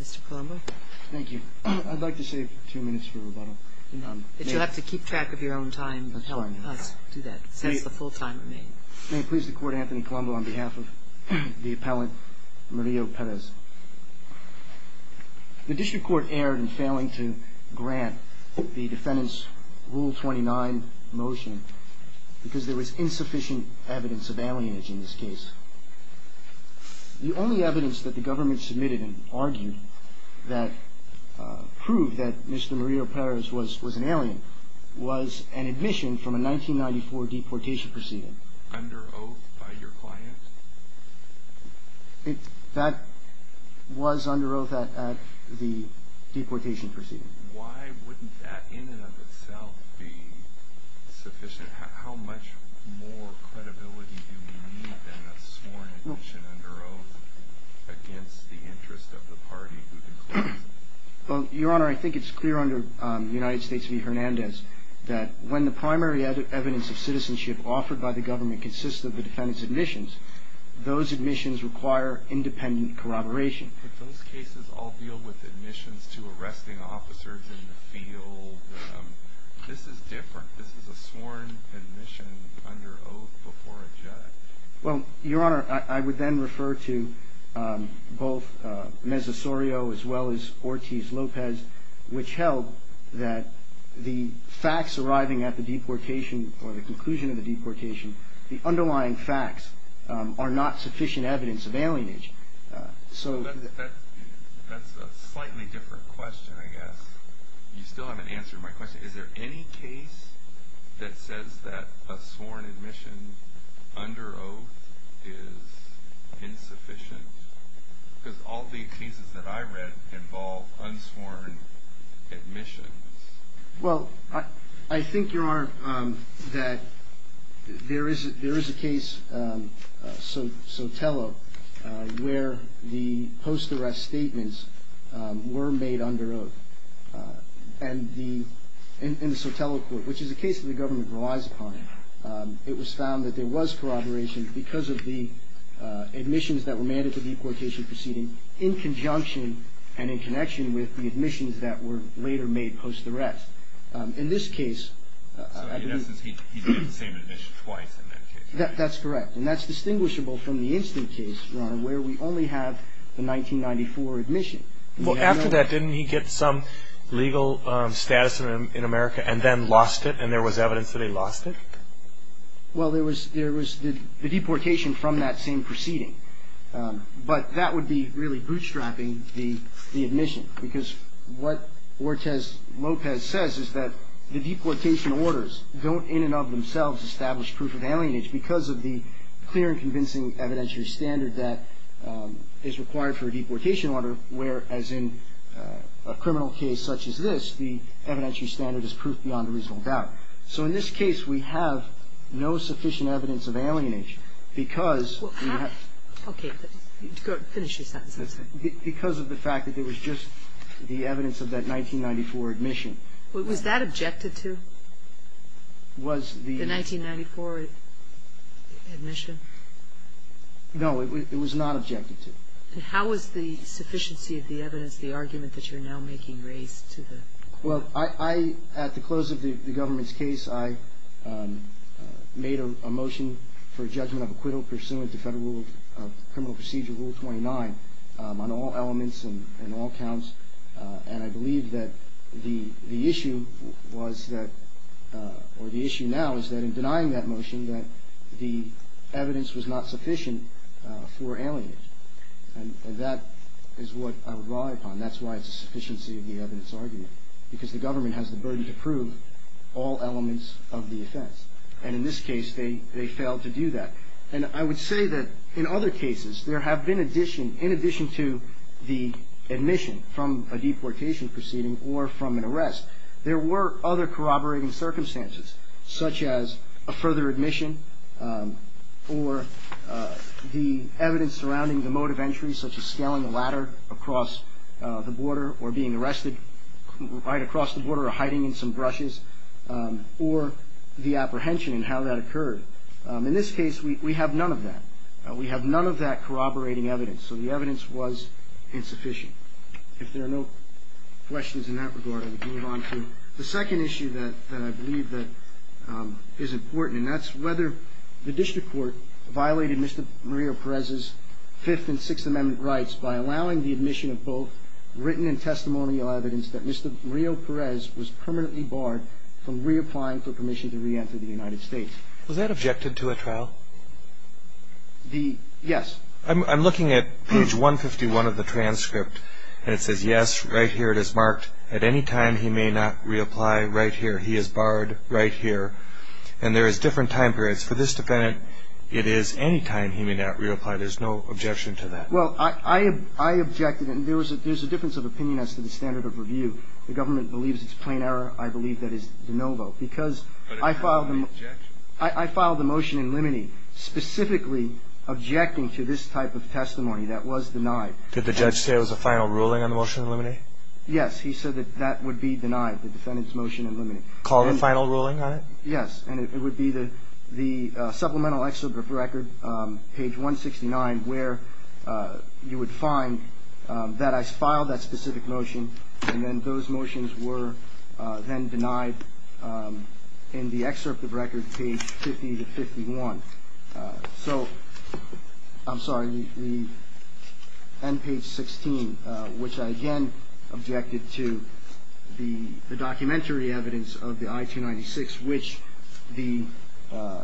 Mr. Colombo. Thank you. I'd like to save two minutes for rebuttal. If you have to keep track of your own time, help us do that, since the full time remains. May it please the Court, Anthony Colombo, on behalf of the appellant Murillo-Perez. The District Court erred in failing to grant the defendant's Rule 29 motion because there was insufficient evidence of alienage in this case. The only evidence that the government submitted and argued that proved that Mr. Murillo-Perez was an alien was an admission from a 1994 deportation proceeding. Under oath by your client? That was under oath at the deportation proceeding. Why wouldn't that in and of itself be sufficient? How much more credibility do we need than a sworn admission under oath against the interest of the party who declares it? Well, Your Honor, I think it's clear under United States v. Hernandez that when the primary evidence of citizenship offered by the government consists of the defendant's admissions, those admissions require independent corroboration. Could those cases all deal with admissions to arresting officers in the field? This is different. This is a sworn admission under oath before a judge. Well, Your Honor, I would then refer to both Meza-Sorio as well as Ortiz-Lopez, which held that the facts arriving at the deportation or the conclusion of the deportation, the underlying facts are not sufficient evidence of alienage. That's a slightly different question, I guess. You still haven't answered my question. Is there any case that says that a sworn admission under oath is insufficient? Because all the cases that I read involve unsworn admissions. Well, I think, Your Honor, that there is a case, Sotelo, where the post-arrest statements were made under oath. And the Sotelo court, which is a case that the government relies upon, it was found that there was corroboration because of the admissions that were made at the deportation proceeding in conjunction and in connection with the admissions that were later made post-arrest. In this case, I believe. So, in essence, he did the same admission twice in that case. That's correct. And that's distinguishable from the instant case, Your Honor, where we only have the 1994 admission. Well, after that, didn't he get some legal status in America and then lost it, and there was evidence that he lost it? Well, there was the deportation from that same proceeding. But that would be really bootstrapping the admission, because what Ortiz-Lopez says is that the deportation orders don't in and of themselves establish proof of alienation because of the clear and convincing evidentiary standard that is required for a deportation order, whereas in a criminal case such as this, the evidentiary standard is proof beyond a reasonable doubt. So, in this case, we have no sufficient evidence of alienation because we have... Okay. Finish your sentences. Because of the fact that there was just the evidence of that 1994 admission. Was that objected to? Was the... The 1994 admission? No, it was not objected to. And how was the sufficiency of the evidence, the argument that you're now making, raised to the... Well, I, at the close of the government's case, I made a motion for a judgment of acquittal pursuant to Federal Criminal Procedure Rule 29 on all elements and all counts, and I believe that the issue was that, or the issue now is that in denying that motion, that the evidence was not sufficient for alienation. And that is what I would rely upon. That's why it's a sufficiency of the evidence argument, because the government has the burden to prove all elements of the offense. And in this case, they failed to do that. And I would say that in other cases, there have been addition, in addition to the admission from a deportation proceeding or from an arrest, there were other corroborating circumstances, such as a further admission or the evidence surrounding the mode of entry, such as scaling a ladder across the border or being arrested right across the border or hiding in some brushes, or the apprehension and how that occurred. In this case, we have none of that. We have none of that corroborating evidence. So the evidence was insufficient. If there are no questions in that regard, I would move on to the second issue that I believe that is important, and that's whether the district court violated Mr. Murillo-Perez's Fifth and Sixth Amendment rights by allowing the admission of both written and testimonial evidence that Mr. Murillo-Perez was permanently barred from reapplying for permission to reenter the United States. Was that objected to at trial? Yes. I'm looking at page 151 of the transcript, and it says, yes, right here it is marked, at any time he may not reapply, right here. He is barred right here. And there is different time periods. For this defendant, it is any time he may not reapply. There's no objection to that. Well, I objected, and there's a difference of opinion as to the standard of review. The government believes it's plain error. I believe that is de novo because I filed the motion in limine, specifically objecting to this type of testimony that was denied. Did the judge say it was a final ruling on the motion in limine? Yes. He said that that would be denied, the defendant's motion in limine. Call the final ruling on it? Yes. And it would be the supplemental excerpt of record, page 169, where you would find that I filed that specific motion, and then those motions were then denied in the excerpt of record, page 50 to 51. So, I'm sorry, the end page 16, which I, again, objected to the documentary evidence of the I-296, which the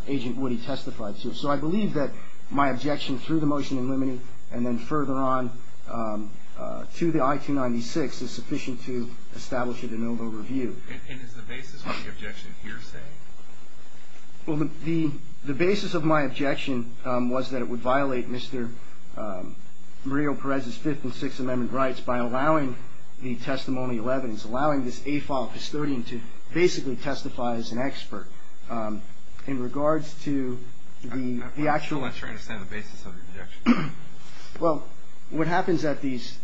agent Woody testified to. So I believe that my objection through the motion in limine and then further on to the I-296 is sufficient to establish it in overview. And is the basis of the objection hearsay? Well, the basis of my objection was that it would violate Mr. Murillo-Perez's Fifth and Sixth Amendment rights by allowing the testimonial evidence, allowing this AFILE custodian to basically testify as an expert. In regards to the actual ---- I'm not sure I understand the basis of the objection. Well, what happens at these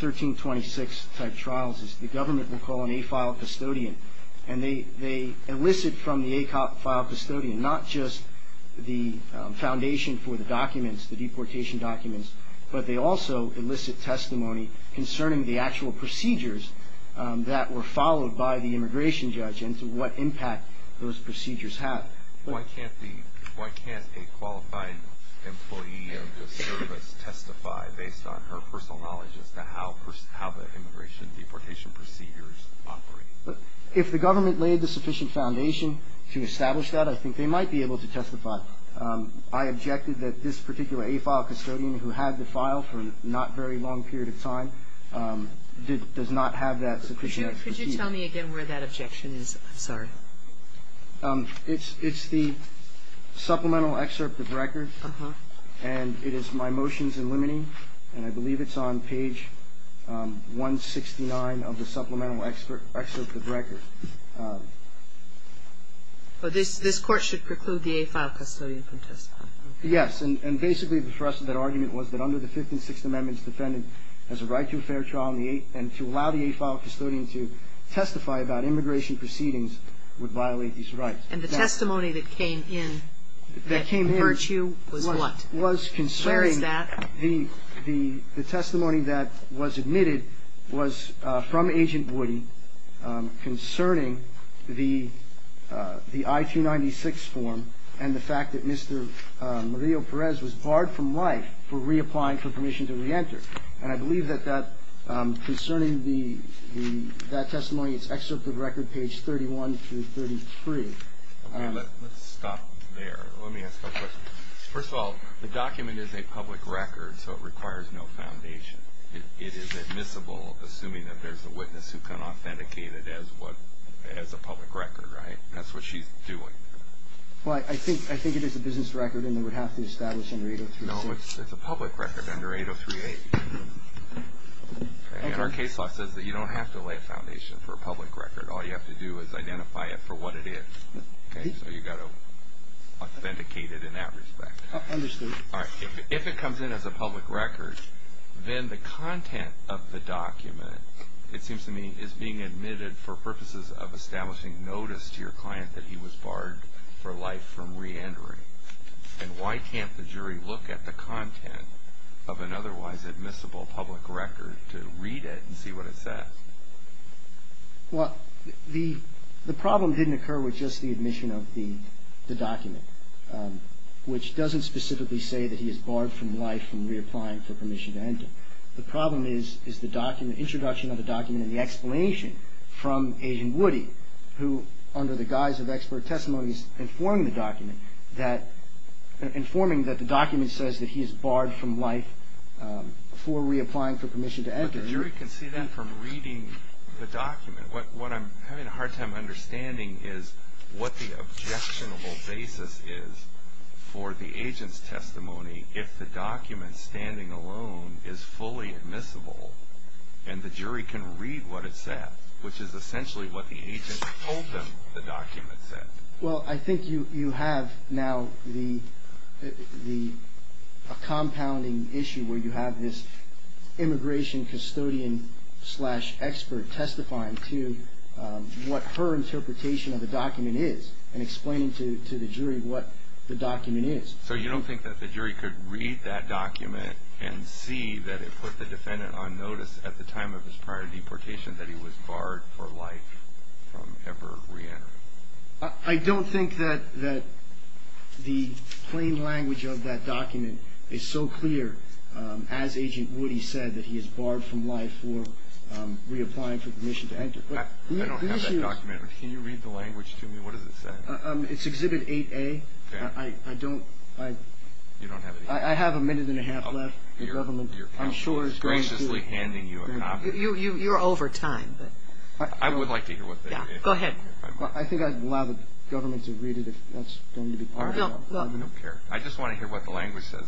1326-type trials is the government will call an AFILE custodian, and they elicit from the AFILE custodian not just the foundation for the documents, the deportation documents, but they also elicit testimony concerning the actual procedures that were followed by the immigration judge and to what impact those procedures have. Why can't a qualifying employee of the service testify based on her personal knowledge as to how the immigration deportation procedures operate? If the government laid the sufficient foundation to establish that, I think they might be able to testify. I objected that this particular AFILE custodian who had the file for not a very long period of time does not have that sufficient procedure. Could you tell me again where that objection is? I'm sorry. It's the supplemental excerpt of the record, and it is my motions in limiting, and I believe it's on page 169 of the supplemental excerpt of the record. This Court should preclude the AFILE custodian from testifying? Yes. And basically for us that argument was that under the Fifth and Sixth Amendments, as a right to a fair trial and to allow the AFILE custodian to testify about immigration proceedings would violate these rights. And the testimony that came in that hurt you was what? Was concerning. Where is that? The testimony that was admitted was from Agent Woody concerning the I-296 form and the fact that Mr. Mario Perez was barred from life for reapplying for permission to reenter. And I believe that concerning that testimony, it's excerpt of record page 31 through 33. Let's stop there. Let me ask a question. First of all, the document is a public record, so it requires no foundation. It is admissible, assuming that there's a witness who can authenticate it as a public record, right? That's what she's doing. Well, I think it is a business record and it would have to establish under 8038. No, it's a public record under 8038. And our case law says that you don't have to lay a foundation for a public record. All you have to do is identify it for what it is. So you've got to authenticate it in that respect. Understood. All right. If it comes in as a public record, then the content of the document, it seems to me, is being admitted for purposes of establishing notice to your client that he was barred for life from reentering. And why can't the jury look at the content of an otherwise admissible public record to read it and see what it says? Well, the problem didn't occur with just the admission of the document, which doesn't specifically say that he is barred from life from reapplying for permission to enter. The problem is the introduction of the document and the explanation from Agent Woody, who under the guise of expert testimony is informing the document that the document says that he is barred from life for reapplying for permission to enter. But the jury can see that from reading the document. What I'm having a hard time understanding is what the objectionable basis is for the agent's testimony if the document standing alone is fully admissible and the jury can read what it says, which is essentially what the agent told them the document said. Well, I think you have now a compounding issue where you have this immigration custodian slash expert testifying to what her interpretation of the document is and explaining to the jury what the document is. So you don't think that the jury could read that document and see that it put the defendant on notice at the time of his prior deportation that he was barred for life from ever reentering? I don't think that the plain language of that document is so clear. As Agent Woody said, that he is barred from life for reapplying for permission to enter. I don't have that document. Can you read the language to me? What does it say? It's Exhibit 8A. I have a minute and a half left. Your counsel is graciously handing you a copy. You're over time. I would like to hear what that is. Go ahead. I think I'd allow the government to read it if that's going to be part of it. I just want to hear what the language says.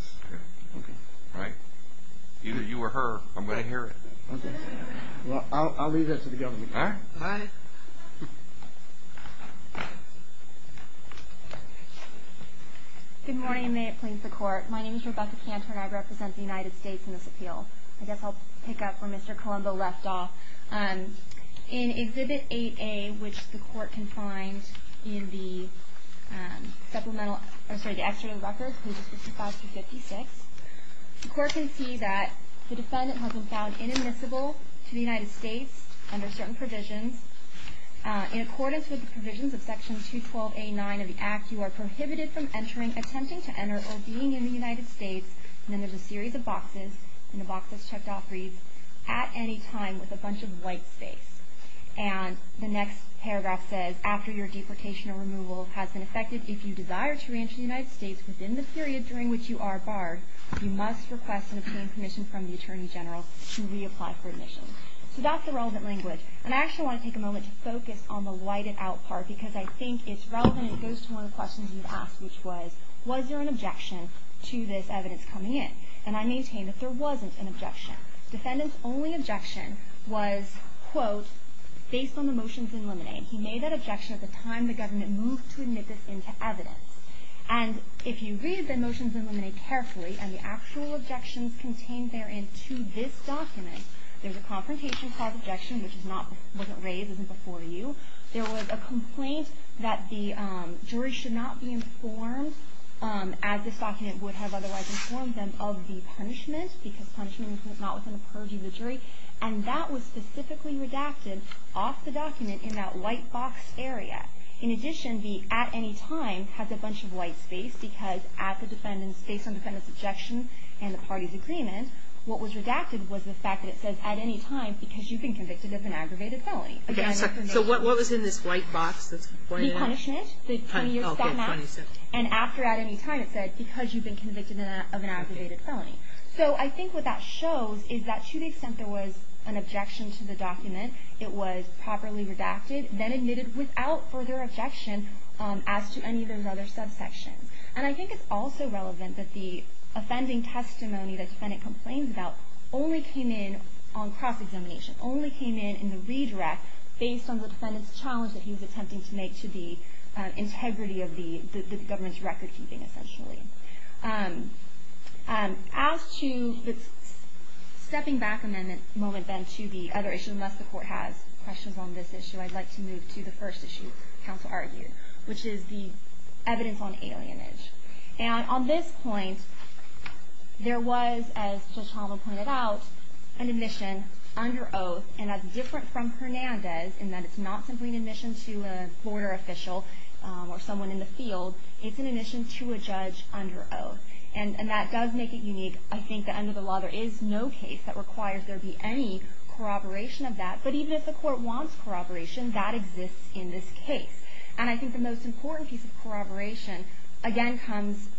Either you or her, I'm going to hear it. I'll leave that to the government. All right. Bye. Good morning, and may it please the Court. My name is Rebecca Cantor, and I represent the United States in this appeal. I guess I'll pick up where Mr. Colombo left off. In Exhibit 8A, which the Court can find in the Extradited Records, pages 55 through 56, the Court can see that the defendant has been found inadmissible to the United States under certain provisions. In accordance with the provisions of Section 212A9 of the Act, you are prohibited from entering, attempting to enter, or being in the United States, and then there's a series of boxes, and the box that's checked off reads, at any time with a bunch of white space. And the next paragraph says, after your deportation or removal has been effected, if you desire to re-enter the United States within the period during which you are barred, you must request and obtain permission from the Attorney General to reapply for admission. So that's the relevant language. And I actually want to take a moment to focus on the whited out part, because I think it's relevant. It goes to one of the questions you've asked, which was, was there an objection to this evidence coming in? And I maintain that there wasn't an objection. Defendant's only objection was, quote, based on the motions in limine. He made that objection at the time the government moved to admit this into evidence. And if you read the motions in limine carefully, and the actual objections contained therein to this document, there's a confrontation clause objection, which wasn't raised, isn't before you. There was a complaint that the jury should not be informed, as this document would have otherwise informed them, of the punishment, because punishment is not within the purview of the jury. And that was specifically redacted off the document in that white box area. In addition, the at any time has a bunch of white space, because at the defendant's, based on the defendant's objection and the party's agreement, what was redacted was the fact that it says at any time, because you've been convicted of an aggravated felony. Okay, so what was in this white box that's pointed out? The punishment, the 20 years to death match. Oh, okay, 20 years to death. And after at any time it said, because you've been convicted of an aggravated felony. So I think what that shows is that to the extent there was an objection to the document, it was properly redacted, then admitted without further objection, as to any of the other subsections. And I think it's also relevant that the offending testimony that the defendant complains about only came in on cross-examination, only came in in the redirect, based on the defendant's challenge that he was attempting to make to the integrity of the government's record keeping, essentially. As to the stepping back a moment, then, to the other issues, unless the court has questions on this issue, I'd like to move to the first issue counsel argued, which is the evidence on alienage. And on this point, there was, as Judge Holland pointed out, an admission under oath, and that's different from Hernandez in that it's not simply an admission to a lawyer official or someone in the field. It's an admission to a judge under oath. And that does make it unique. I think that under the law there is no case that requires there be any corroboration of that. But even if the court wants corroboration, that exists in this case. And I think the most important piece of corroboration, again, comes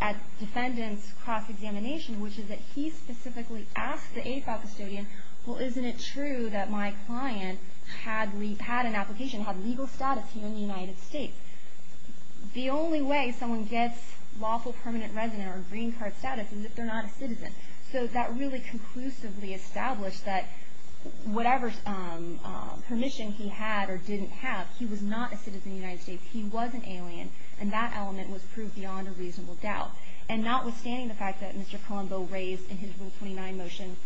at defendant's cross-examination, which is that he specifically asked the 85 custodian, well, isn't it true that my client had an application, had legal status here in the United States? The only way someone gets lawful permanent resident or green card status is if they're not a citizen. So that really conclusively established that whatever permission he had or didn't have, he was not a citizen of the United States. He was an alien, and that element was proved beyond a reasonable doubt. And notwithstanding the fact that Mr. Colombo raised in his Rule 29 motion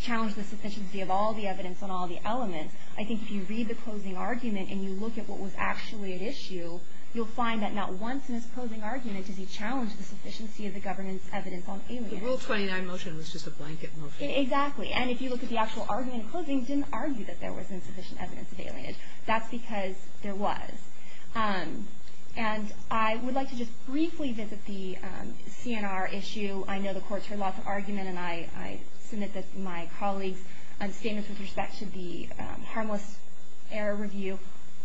challenged the sufficiency of all the evidence on all the elements, I think if you read the closing argument and you look at what was actually at issue, you'll find that not once in his closing argument does he challenge the sufficiency of the government's evidence on alienage. The Rule 29 motion was just a blanket motion. Exactly. And if you look at the actual argument in closing, he didn't argue that there wasn't sufficient evidence of alienage. That's because there was. And I would like to just briefly visit the CNR issue. I know the courts heard lots of argument, and I submit my colleagues' statements with respect to the harmless error review.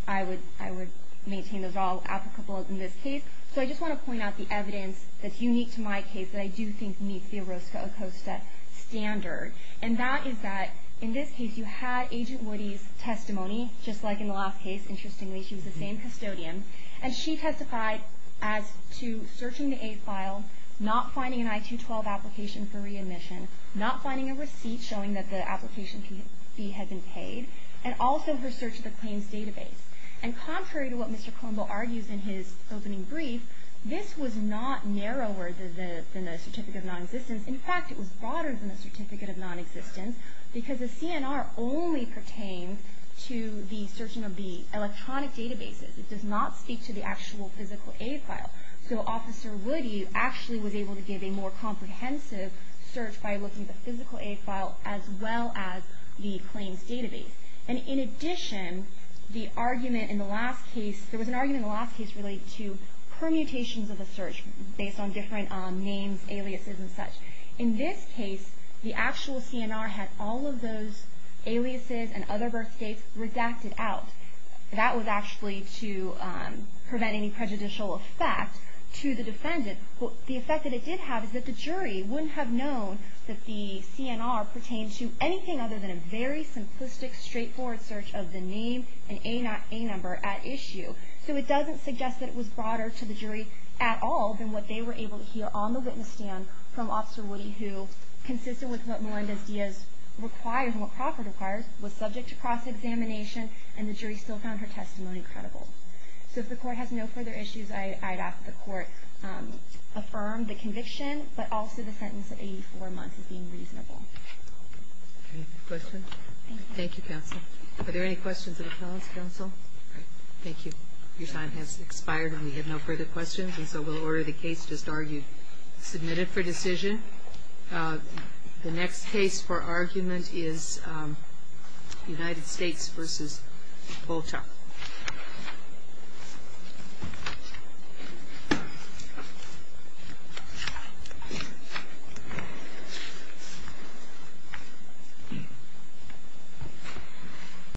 I would maintain those are all applicable in this case. So I just want to point out the evidence that's unique to my case that I do think meets the Orozco-Acosta standard, and that is that in this case you had Agent Woody's testimony, just like in the last case, interestingly. She was the same custodian, and she testified as to searching the A file, not finding an I-212 application for readmission, not finding a receipt showing that the application fee had been paid, and also her search of the claims database. And contrary to what Mr. Colombo argues in his opening brief, this was not narrower than the certificate of nonexistence. In fact, it was broader than the certificate of nonexistence because the CNR only pertains to the searching of the electronic databases. It does not speak to the actual physical A file. So Officer Woody actually was able to give a more comprehensive search by looking at the physical A file as well as the claims database. And in addition, the argument in the last case, there was an argument in the last case related to permutations of the search based on different names, aliases, and such. In this case, the actual CNR had all of those aliases and other birth states redacted out. That was actually to prevent any prejudicial effect to the defendant. The effect that it did have is that the jury wouldn't have known that the CNR pertained to anything other than a very simplistic, straightforward search of the name and A number at issue. So it doesn't suggest that it was broader to the jury at all than what they were able to hear on the witness stand from Officer Woody who, consistent with what Melendez-Diaz requires, and what Crawford requires, was subject to cross-examination and the jury still found her testimony credible. So if the court has no further issues, I'd ask the court affirm the conviction but also the sentence of 84 months as being reasonable. Any questions? Thank you, counsel. Are there any questions of the counsel? Thank you. Your time has expired and we have no further questions and so we'll order the case just argued. Submitted for decision. The next case for argument is United States v. Polchak.